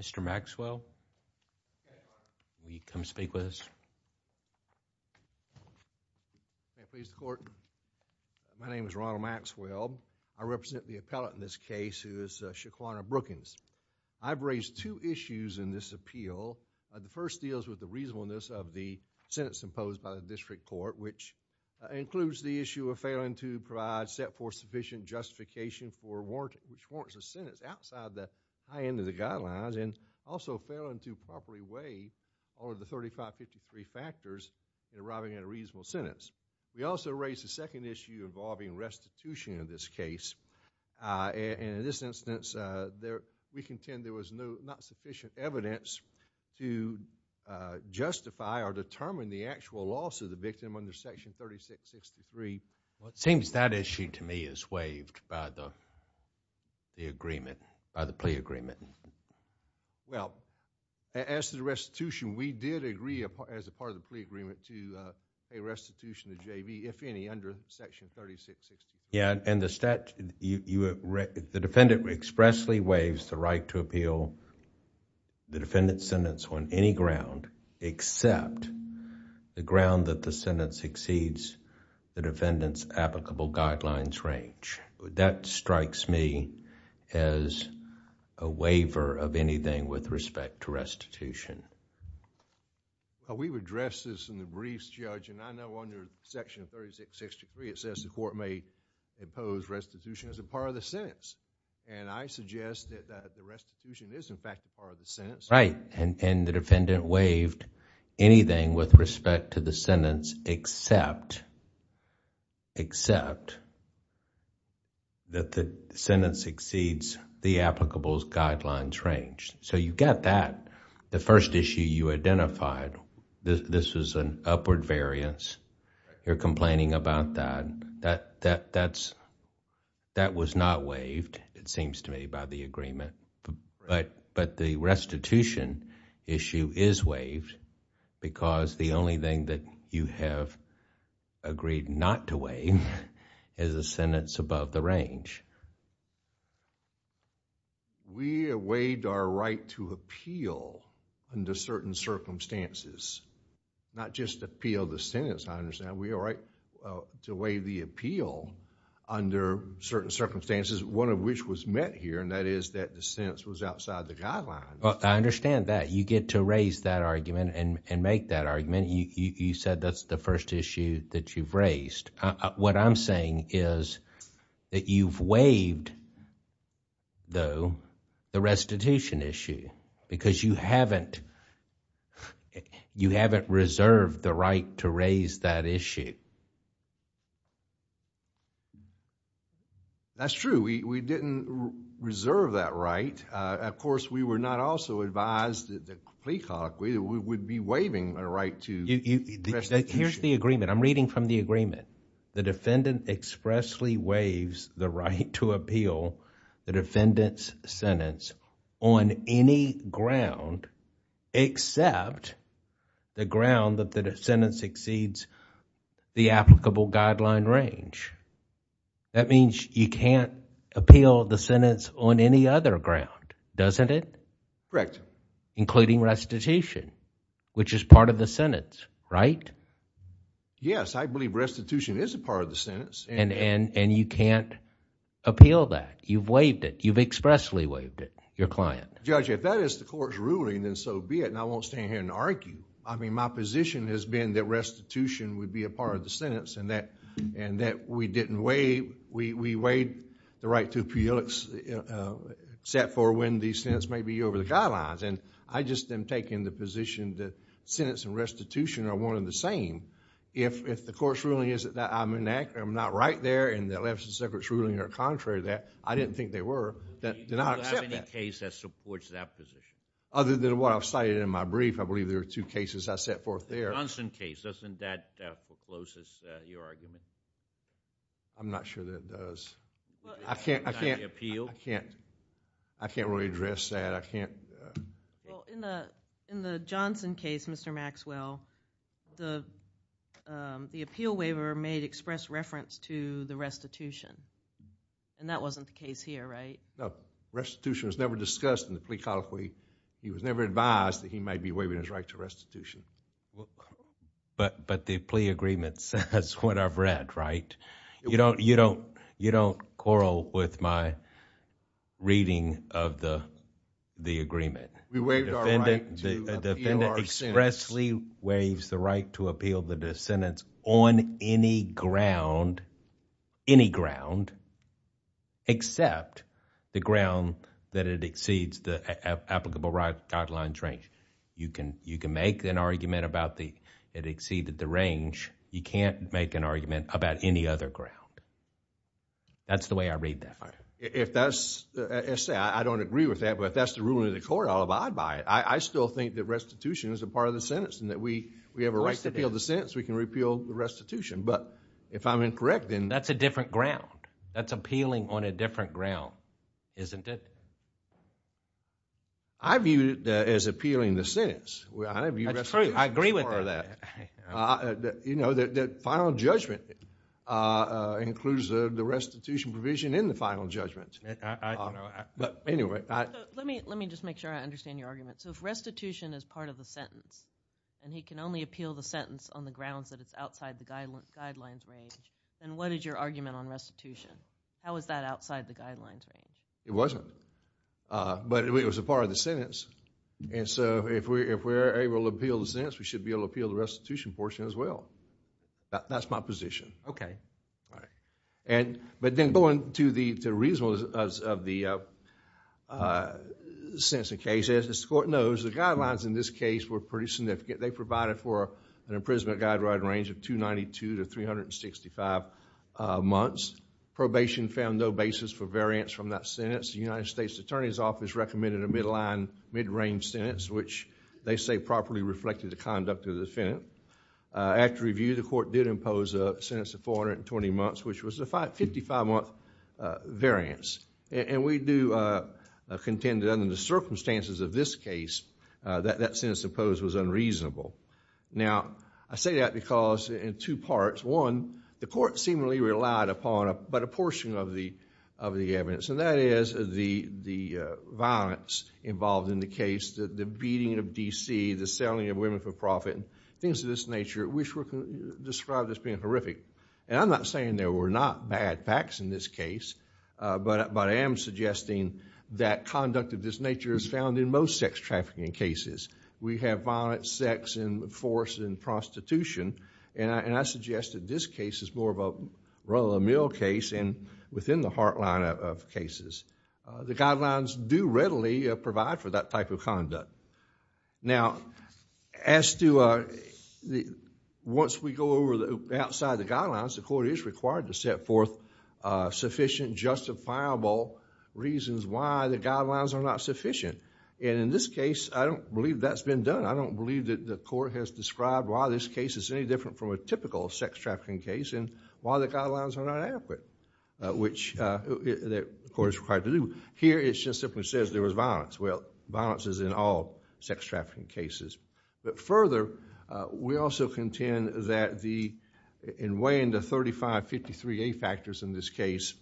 Mr. Maxwell, will you come speak with us? May it please the court, my name is Ronald Maxwell. I represent the appellate in this case who is Shaquanna Brookins. I've raised two issues in this appeal. The first deals with the reasonableness of the sentence imposed by the district court, which includes the issue of failing to provide set forth sufficient justification for warrant, which warrants a sentence outside the high end of the guidelines, and also failing to properly weigh all of the 3553 factors in arriving at a reasonable sentence. We also raised a second issue involving restitution in this case. In this instance, we contend there was not sufficient evidence to justify or determine the actual loss of the victim under Section 3663. It seems that issue to me is waived by the agreement, by the plea agreement. Well, as to the restitution, we did agree as a part of the plea agreement to pay restitution to JV, if any, under Section 3663. Yeah, and the defendant expressly waives the right to appeal the defendant's sentence on any ground except the ground that the sentence exceeds the defendant's applicable guidelines range. That strikes me as a waiver of anything with respect to restitution. We've addressed this in the briefs, Judge, and I know under Section 3663, it says the court may impose restitution as a part of the sentence. I suggest that the restitution is in fact a part of the sentence. Right, and the defendant waived anything with respect to the sentence except that the sentence exceeds the applicable guidelines range. You've got that. The first issue you identified, this was an upward variance. You're complaining about that. That was not waived, it seems to me, by the agreement. But the restitution issue is waived because the only thing that you have agreed not to waive is a sentence above the range. We waived our right to appeal under certain circumstances, not just appeal the sentence, I understand. We are right to waive the appeal under certain circumstances, one of which was met here, and that is that the sentence was outside the guidelines. I understand that. You get to raise that argument and make that argument. You said that's the first issue that you've raised. What I'm saying is that you've waived, though, the restitution issue because you haven't reserved the right to raise that issue. That's true. We didn't reserve that right. Of course, we were not also advised that the plea colloquy would be waiving a right to... Here's the agreement. I'm reading from the agreement. The defendant expressly waives the right to appeal the defendant's sentence on any ground except the ground that the sentence exceeds the applicable guideline range. That means you can't appeal the sentence on any other ground, doesn't it? Correct. Including restitution, which is part of the sentence, right? Yes. I believe restitution is a part of the sentence. You can't appeal that. You've waived it. You've expressly waived it, your client. Judge, if that is the court's ruling, then so be it. I won't stand here and argue. My position has been that restitution would be a part of the sentence and that we waived the right to appeal except for when the sentence may be over the guidelines. I just am taking the position that sentence and restitution are one and the same. If the court's ruling is that I'm not right there and the election secretary's ruling are contrary to that, I didn't think they were, then I'll accept that. Do you have any case that supports that position? Other than what I've cited in my brief, I believe there are two cases I set forth there. The Johnson case. Doesn't that forecloses your argument? I'm not sure that does. I can't really address that. In the Johnson case, Mr. Maxwell, the appeal waiver made express reference to the restitution. That wasn't the case here, right? No. Restitution was never discussed in the plea codify. He was never advised that he might be waiving his right to restitution. But the plea agreement says what I've read, right? You don't quarrel with my reading of the agreement. We waived our right to appeal our sentence. The defendant expressly waives the right to appeal the sentence on any ground, any ground except the ground that it exceeds the applicable guidelines range. You can make an argument about it exceeded the range. You can't make an argument about any other ground. That's the way I read that. I don't agree with that, but if that's the ruling of the court, I'll abide by it. I still think that restitution is a part of the sentence and that we have a right to appeal the sentence, we can repeal the restitution. If I'm incorrect, then- That's a different ground. That's appealing on a different ground, isn't it? I view it as appealing the sentence. I agree with that. Final judgment includes the restitution provision in the final judgment. Let me just make sure I understand your argument. If restitution is part of the sentence and he can only appeal the sentence on the grounds that it's outside the guidelines range, then what is your argument on restitution? How is that outside the guidelines range? It wasn't, but it was a part of the sentence. If we're able to appeal the sentence, we should be able to appeal the restitution portion as well. That's my position. But then going to the reasons of the sentencing case, as the court knows, the guidelines in this case were pretty significant. They provided for an imprisonment guideline range of 292 to 365 months. Probation found no basis for variance from that sentence. The United States Attorney's Office recommended a midline, midrange sentence, which they say properly reflected the conduct of the defendant. After review, the court did impose a sentence of 420 months, which was a 55-month variance. We do contend that under the circumstances of this case, that sentence imposed was unreasonable. Now, I say that because in two parts. One, the court seemingly relied upon but a portion of the evidence, and that is the violence involved in the case, the beating of DC, the selling of women for profit, things of this nature, which were described as being horrific. I'm not saying there were not bad facts in this case, but I am suggesting that conduct of this nature is found in most sex trafficking cases. We have violence, sex, and force, and prostitution, and I suggest that this case is more of a run-of-the-mill case and within the heartline of cases. The guidelines do readily provide for that type of conduct. Now, once we go over outside the guidelines, the court is required to set forth sufficient justifiable reasons why the guidelines are not sufficient. And in this case, I don't believe that's been done. I don't believe that the court has described why this case is any different from a typical sex trafficking case and why the guidelines are not adequate, which the court is required to do. Here, it just simply says there was violence. Well, violence is in all sex trafficking cases. But further, we also contend that in weighing the 3553A factors in this case,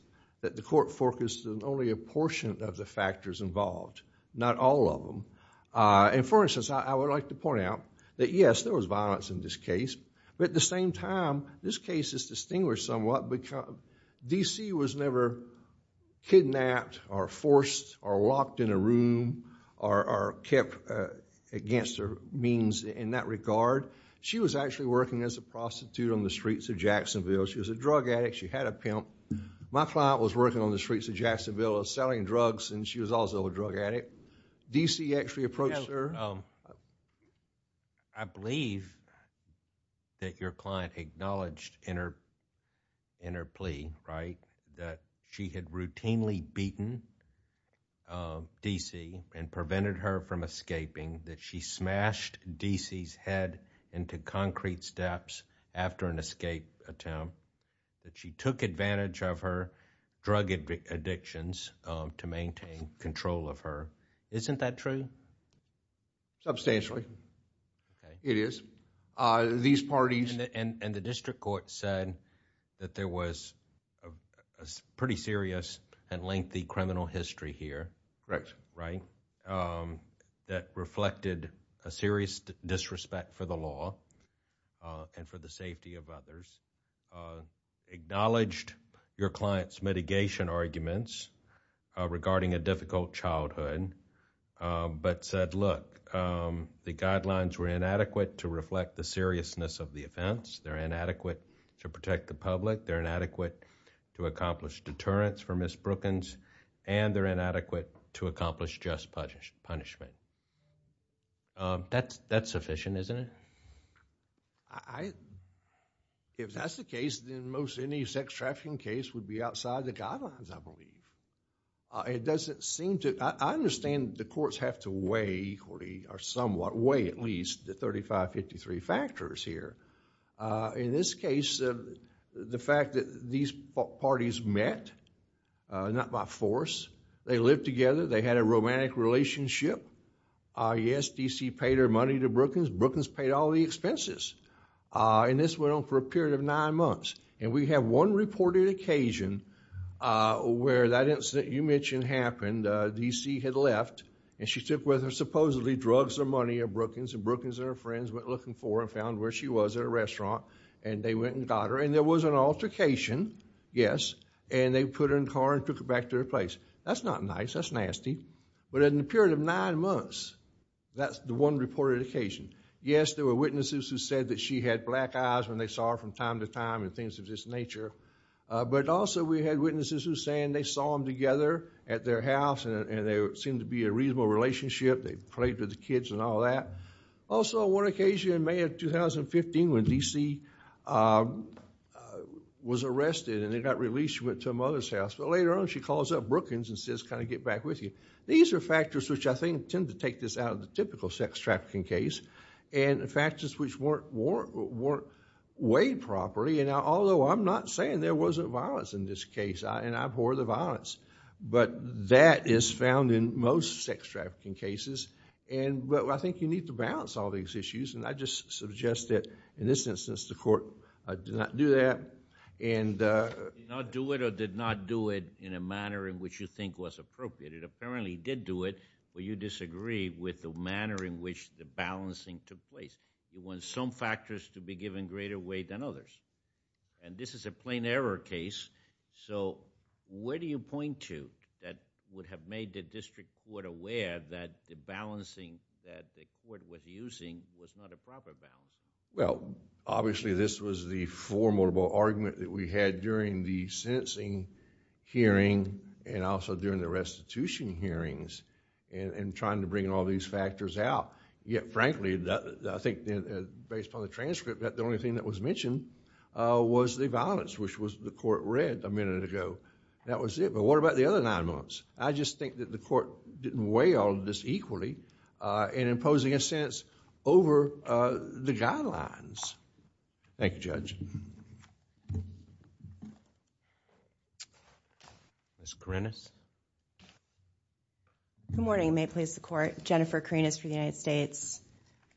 that the court focused on only a portion of the factors involved, not all of them. And for instance, I would like to point out that, yes, there was violence in this case, but at the same time, this case is distinguished somewhat because D.C. was never kidnapped or forced or locked in a room or kept against her means in that regard. She was actually working as a prostitute on the streets of Jacksonville. She was a drug addict. She had a pimp. My client was working on the streets of Jacksonville selling drugs and she was also a drug addict. D.C. actually approached her. I believe that your client acknowledged in her plea, right, that she had routinely beaten D.C. and prevented her from escaping, that she smashed D.C.'s head into concrete steps after an escape attempt, that she took advantage of her drug addictions to maintain control of her. Isn't that true? Substantially. It is. These parties... And the district court said that there was a pretty serious and lengthy criminal history here, right, that reflected a serious disrespect for the law and for the safety of others. Acknowledged your client's mitigation arguments regarding a difficult childhood, but said, look, the guidelines were inadequate to reflect the seriousness of the offense. They're inadequate to protect the public. They're inadequate to accomplish deterrence for Ms. Brookins and they're inadequate to accomplish just punishment. That's sufficient, isn't it? If that's the case, then most any sex trafficking case would be outside the guidelines, I believe. It doesn't seem to... I understand the courts have to weigh equally or somewhat, weigh at least the 35-53 factors here. In this case, the fact that these parties met, not by force. They lived together. They had a romantic relationship. Yes, D.C. paid her money to Brookins. Brookins paid all the expenses. And this went on for a period of nine months. And we have one reported occasion where that incident you mentioned happened. D.C. had left and she took with her supposedly drugs or money at Brookins. And Brookins and her friends went looking for her and found where she was at a restaurant. And they went and got her. And there was an altercation, yes. And they put her in a car and took her back to her place. That's not nice. That's nasty. But in a period of nine months, that's the one reported occasion. Yes, there were witnesses who said that she had black eyes when they saw her from time to time and things of this nature. But also, we had witnesses who were saying they saw them together at their house and there seemed to be a reasonable relationship. They played with the kids and all that. Also, one occasion in May of 2015 when D.C. was arrested and then got released, she went to her mother's house. But later on, she calls up Brookins and says, kind of get back with you. These are factors which I think tend to take this out of the typical sex trafficking case. And the factors which weren't weighed properly. And although I'm not saying there wasn't violence in this case, and I abhor the violence, but that is found in most sex trafficking cases. And I think you need to balance all these issues. And I just suggest that in this instance, the court did not do that and... You did not do it or did not do it in a manner in which you think was appropriate. It apparently did do it, but you disagree with the manner in which the balancing took place. You want some factors to be given greater weight than others. And this is a plain error case. So where do you point to that would have made the district court aware that the balancing that the court was using was not a proper balance? Well, obviously, this was the formidable argument that we had during the sentencing hearing and also during the restitution hearings in trying to bring all these factors out. Yet, frankly, I think based on the transcript, the only thing that was mentioned was the violence, which the court read a minute ago. That was it. But what about the other nine months? I just think that the court didn't weigh all of this equally in imposing a sentence over the guidelines. Thank you, Judge. Ms. Karinas. Good morning. May it please the court. Jennifer Karinas for the United States.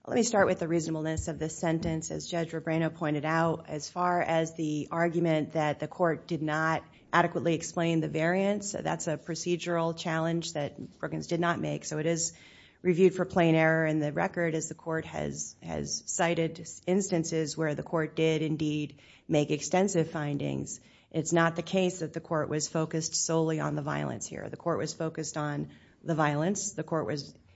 Let me start with the reasonableness of this sentence. As Judge Rebrano pointed out, as far as the argument that the court did not adequately explain the variance, that's a procedural challenge that Brookings did not make. So it is reviewed for plain error in the record as the court has cited instances where the court did indeed make extensive findings. It's not the case that the court was focused solely on the violence here. The court was focused on the violence.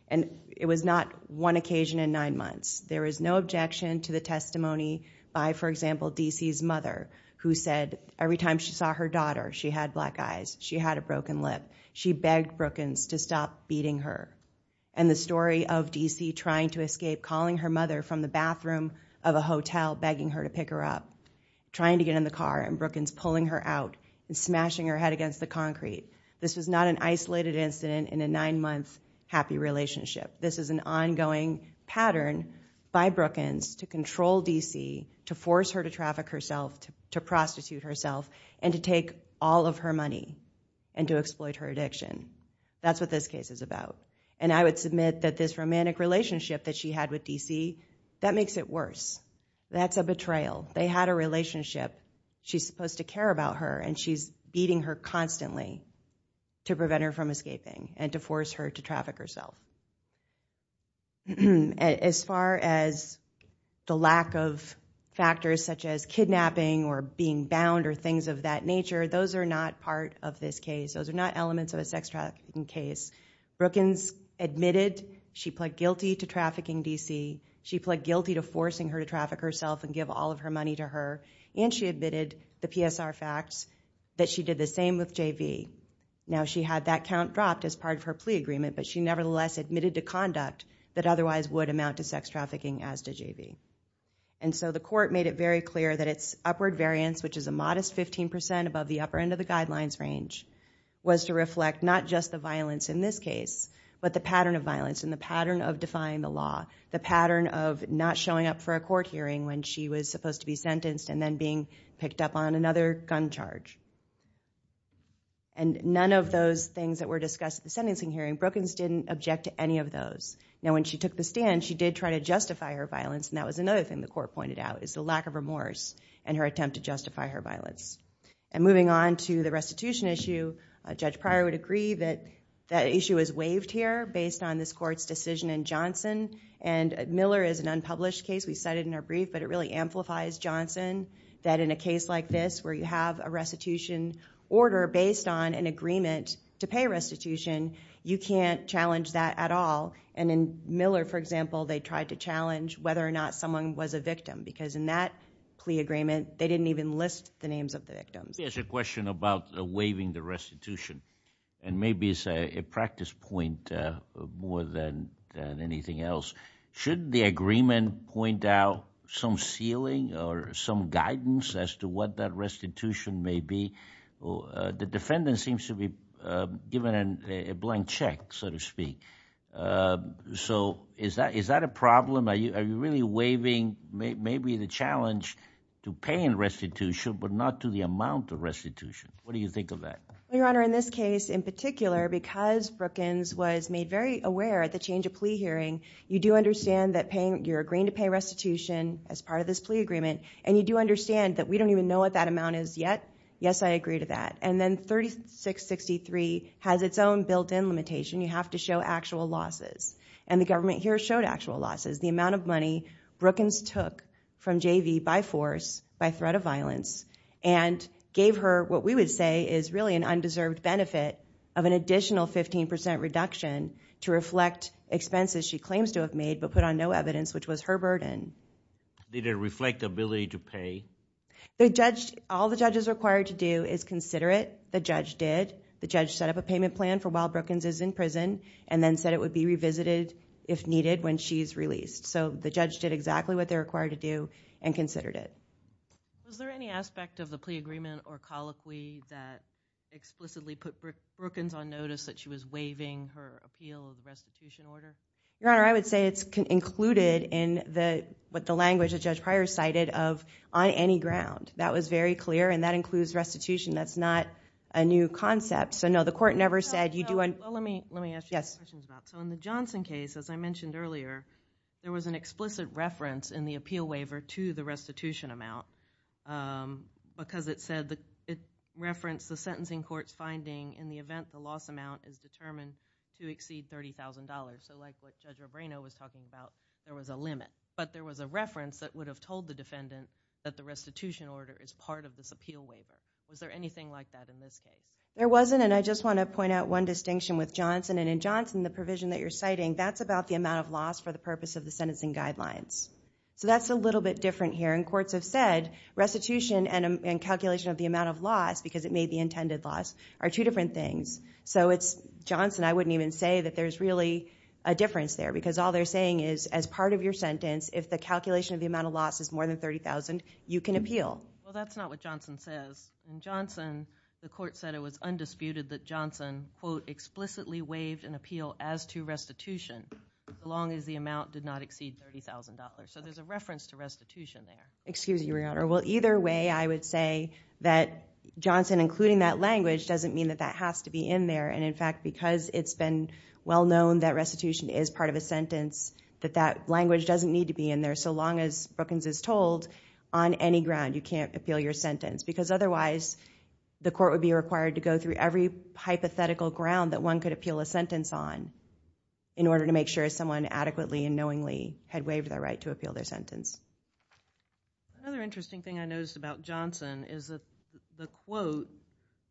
It was not one occasion in nine months. There is no objection to the testimony by, for example, DC's mother who said every time she saw her daughter, she had black eyes. She had a broken lip. She begged Brookings to stop beating her. And the story of DC trying to escape, calling her mother from the bathroom of a hotel, begging her to pick her up, trying to get in the car. And Brookings pulling her out and smashing her head against the concrete. This was not an isolated incident in a nine-month happy relationship. This is an ongoing pattern by Brookings to control DC, to force her to traffic herself, to prostitute herself, and to take all of her money and to exploit her addiction. That's what this case is about. And I would submit that this romantic relationship that she had with DC, that makes it worse. That's a betrayal. They had a relationship. She's supposed to care about her and she's beating her constantly to prevent her from escaping and to force her to traffic herself. Now, as far as the lack of factors such as kidnapping or being bound or things of that nature, those are not part of this case. Those are not elements of a sex trafficking case. Brookings admitted she pled guilty to trafficking DC. She pled guilty to forcing her to traffic herself and give all of her money to her. And she admitted, the PSR facts, that she did the same with JV. Now, she had that count dropped as part of her plea agreement, but she nevertheless admitted to conduct that otherwise would amount to sex trafficking as to JV. And so the court made it very clear that its upward variance, which is a modest 15% above the upper end of the guidelines range, was to reflect not just the violence in this case, but the pattern of violence and the pattern of defying the law, the pattern of not showing up for a court hearing when she was supposed to be sentenced and then being picked up on another gun charge. And none of those things that were discussed at the sentencing hearing, Brookings didn't object to any of those. Now, when she took the stand, she did try to justify her violence. And that was another thing the court pointed out, is the lack of remorse in her attempt to justify her violence. And moving on to the restitution issue, Judge Pryor would agree that that issue is waived here based on this court's decision in Johnson. And Miller is an unpublished case. We cited in our brief, but it really amplifies Johnson, that in a case like this, where you have a restitution order based on an agreement to pay restitution, you can't challenge that at all. And in Miller, for example, they tried to challenge whether or not someone was a victim, because in that plea agreement, they didn't even list the names of the victims. There's a question about waiving the restitution. And maybe it's a practice point more than anything else. Should the agreement point out some ceiling or some guidance as to what that restitution may be? The defendant seems to be given a blank check, so to speak. So is that a problem? Are you really waiving maybe the challenge to pay in restitution, but not to the amount of restitution? What do you think of that? Your Honor, in this case in particular, because Brookins was made very aware at the change of plea hearing, you do understand that you're agreeing to pay restitution as part of this plea agreement. And you do understand that we don't even know what that amount is yet. Yes, I agree to that. And then 3663 has its own built-in limitation. You have to show actual losses. And the government here showed actual losses, the amount of money Brookins took from JV by force, by threat of violence, and gave her what we would say is really an undeserved benefit of an additional 15% reduction to reflect expenses she claims to have made, but put on no evidence, which was her burden. Did it reflect the ability to pay? The judge, all the judge is required to do is consider it. The judge did. The judge set up a payment plan for while Brookins is in prison and then said it would be revisited if needed when she's released. So the judge did exactly what they're required to do and considered it. Was there any aspect of the plea agreement or colloquy that explicitly put Brookins on notice that she was waiving her appeal of the restitution order? Your Honor, I would say it's included in what the language that Judge Pryor cited of on any ground. That was very clear, and that includes restitution. That's not a new concept. So no, the court never said you do... Well, let me ask you a question about that. So in the Johnson case, as I mentioned earlier, there was an explicit reference in the appeal waiver to the restitution amount because it said it referenced the sentencing court's finding in the event the loss amount is determined to exceed $30,000. So like what Judge Robreno was talking about, there was a limit, but there was a reference that would have told the defendant that the restitution order is part of this appeal waiver. Was there anything like that in this case? There wasn't, and I just want to point out one distinction with Johnson. And in Johnson, the provision that you're citing, that's about the amount of loss for the purpose of the sentencing guidelines. So that's a little bit different here. And courts have said restitution and calculation of the amount of loss, because it made the intended loss, are two different things. So it's Johnson, I wouldn't even say that there's really a difference there because all they're saying is, as part of your sentence, if the calculation of the amount of loss is more than $30,000, you can appeal. Well, that's not what Johnson says. In Johnson, the court said it was undisputed that Johnson, quote, explicitly waived an appeal as to restitution, as long as the amount did not exceed $30,000. So there's a reference to restitution there. Excuse me, Your Honor. Well, either way, I would say that Johnson, including that language, doesn't mean that that has to be in there. And in fact, because it's been well known that restitution is part of a sentence, that that language doesn't need to be in there so long as Brookings is told, on any ground, you can't appeal your sentence. Because otherwise, the court would be required to go through every hypothetical ground that one could appeal a sentence on in order to make sure someone adequately and knowingly had waived their right to appeal their sentence. Another interesting thing I noticed about Johnson is that the quote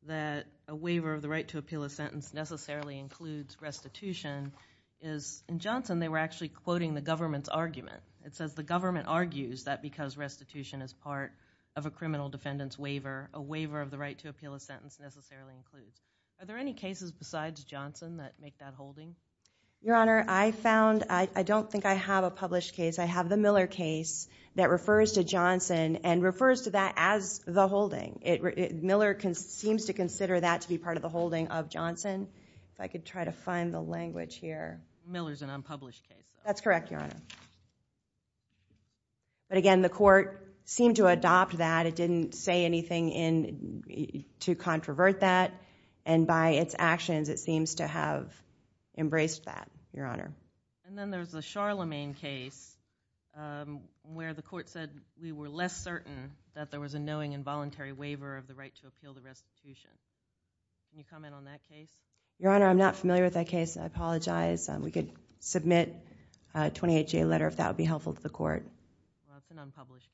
that a waiver of the right to appeal a sentence necessarily includes restitution, is in Johnson, they were actually quoting the government's argument. It says the government argues that because restitution is part of a criminal defendant's waiver, a waiver of the right to appeal a sentence necessarily includes. Are there any cases besides Johnson that make that holding? Your Honor, I found, I don't think I have a published case. I have the Miller case that refers to Johnson and refers to that as the holding. Miller seems to consider that to be part of the holding of Johnson. If I could try to find the language here. Miller's an unpublished case. That's correct, Your Honor. But again, the court seemed to adopt that. It didn't say anything to controvert that. And by its actions, it seems to have embraced that, Your Honor. And then there's the Charlemagne case where the court said we were less certain that there was a knowing involuntary waiver of the right to appeal the restitution. Can you comment on that case? Your Honor, I'm not familiar with that case. I apologize. We could submit a 28-J letter if that would be helpful to the court. It's an unpublished case.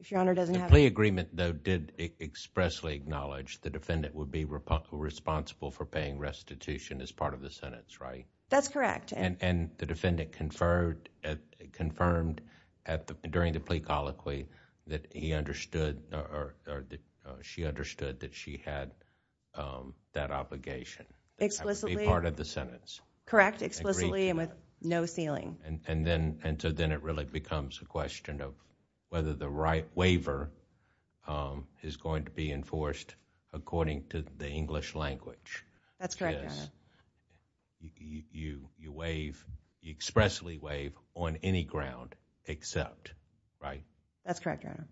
If Your Honor doesn't have it. The plea agreement, though, did expressly acknowledge the defendant would be responsible for paying restitution as part of the sentence, right? That's correct. And the defendant confirmed during the plea colloquy that he understood or she understood that she had that obligation. Explicitly. That would be part of the sentence. Correct. Explicitly and with no ceiling. And so then it really becomes a question of whether the right waiver is going to be enforced according to the English language. That's correct, Your Honor. Because you expressly waive on any ground except, right? That's correct, Your Honor.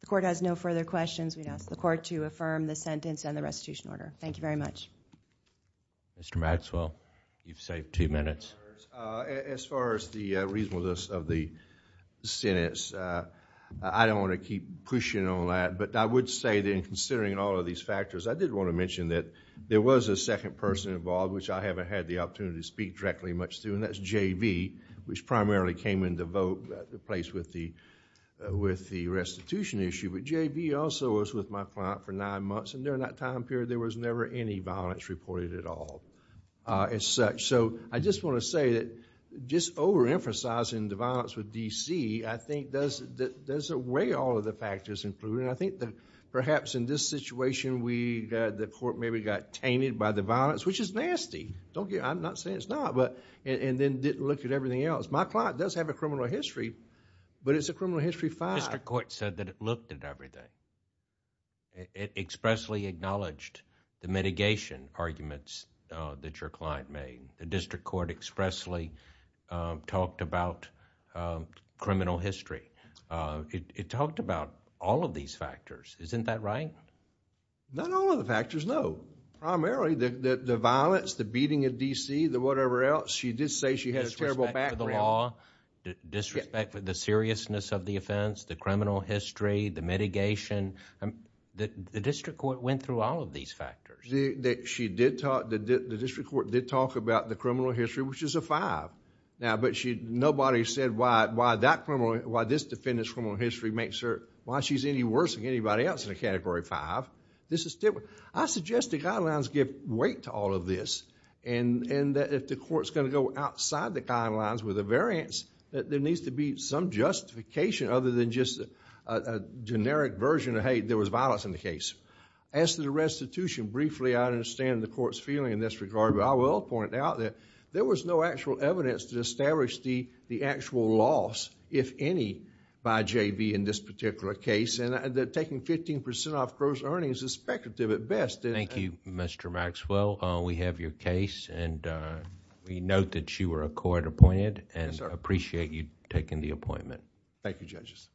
The court has no further questions. We'd ask the court to affirm the sentence and the restitution order. Thank you very much. Mr. Maxwell, you've saved two minutes. As far as the reasonableness of the sentence, I don't want to keep pushing on that, but I would say that in considering all of these factors, I did want to mention that there was a second person involved, which I haven't had the opportunity to speak directly much to, and that's J.B., which primarily came in the vote place with the restitution issue. But J.B. also was with my client for nine months, and during that time period, there was never any violence reported at all as such. So I just want to say that just overemphasizing the violence with D.C., I think does away all of the factors included. I think that perhaps in this situation, the court maybe got tainted by the violence, which is nasty. I'm not saying it's not, and then didn't look at everything else. My client does have a criminal history, but it's a criminal history five. The district court said that it looked at everything. It expressly acknowledged the mitigation arguments that your client made. The district court expressly talked about criminal history. It talked about all of these factors. Isn't that right? Not all of the factors, no. Primarily, the violence, the beating at D.C., the whatever else. She did say she had a terrible background. Disrespect for the law, disrespect for the seriousness of the offense, the criminal history, the mitigation. The district court went through all of these factors. The district court did talk about the criminal history, which is a five. But nobody said why this defendant's criminal history makes her, why she's any worse than anybody else in a category five. This is different. I suggest the guidelines give weight to all of this, and that if the court's going to go outside the guidelines with a variance, that there needs to be some justification other than just a generic version of, hey, there was violence in the case. As to the restitution, briefly, I understand the court's feeling in this regard, but I will point out that there was no actual evidence to establish the actual loss, if any, by J.B. in this particular case, and that taking 15% off gross earnings is speculative at best. Thank you, Mr. Maxwell. We have your case, and we note that you were a court appointed, and appreciate you taking the appointment. Thank you, judges.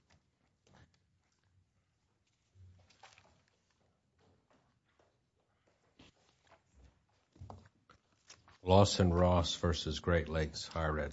Lawson Ross versus Great Lakes Higher Education.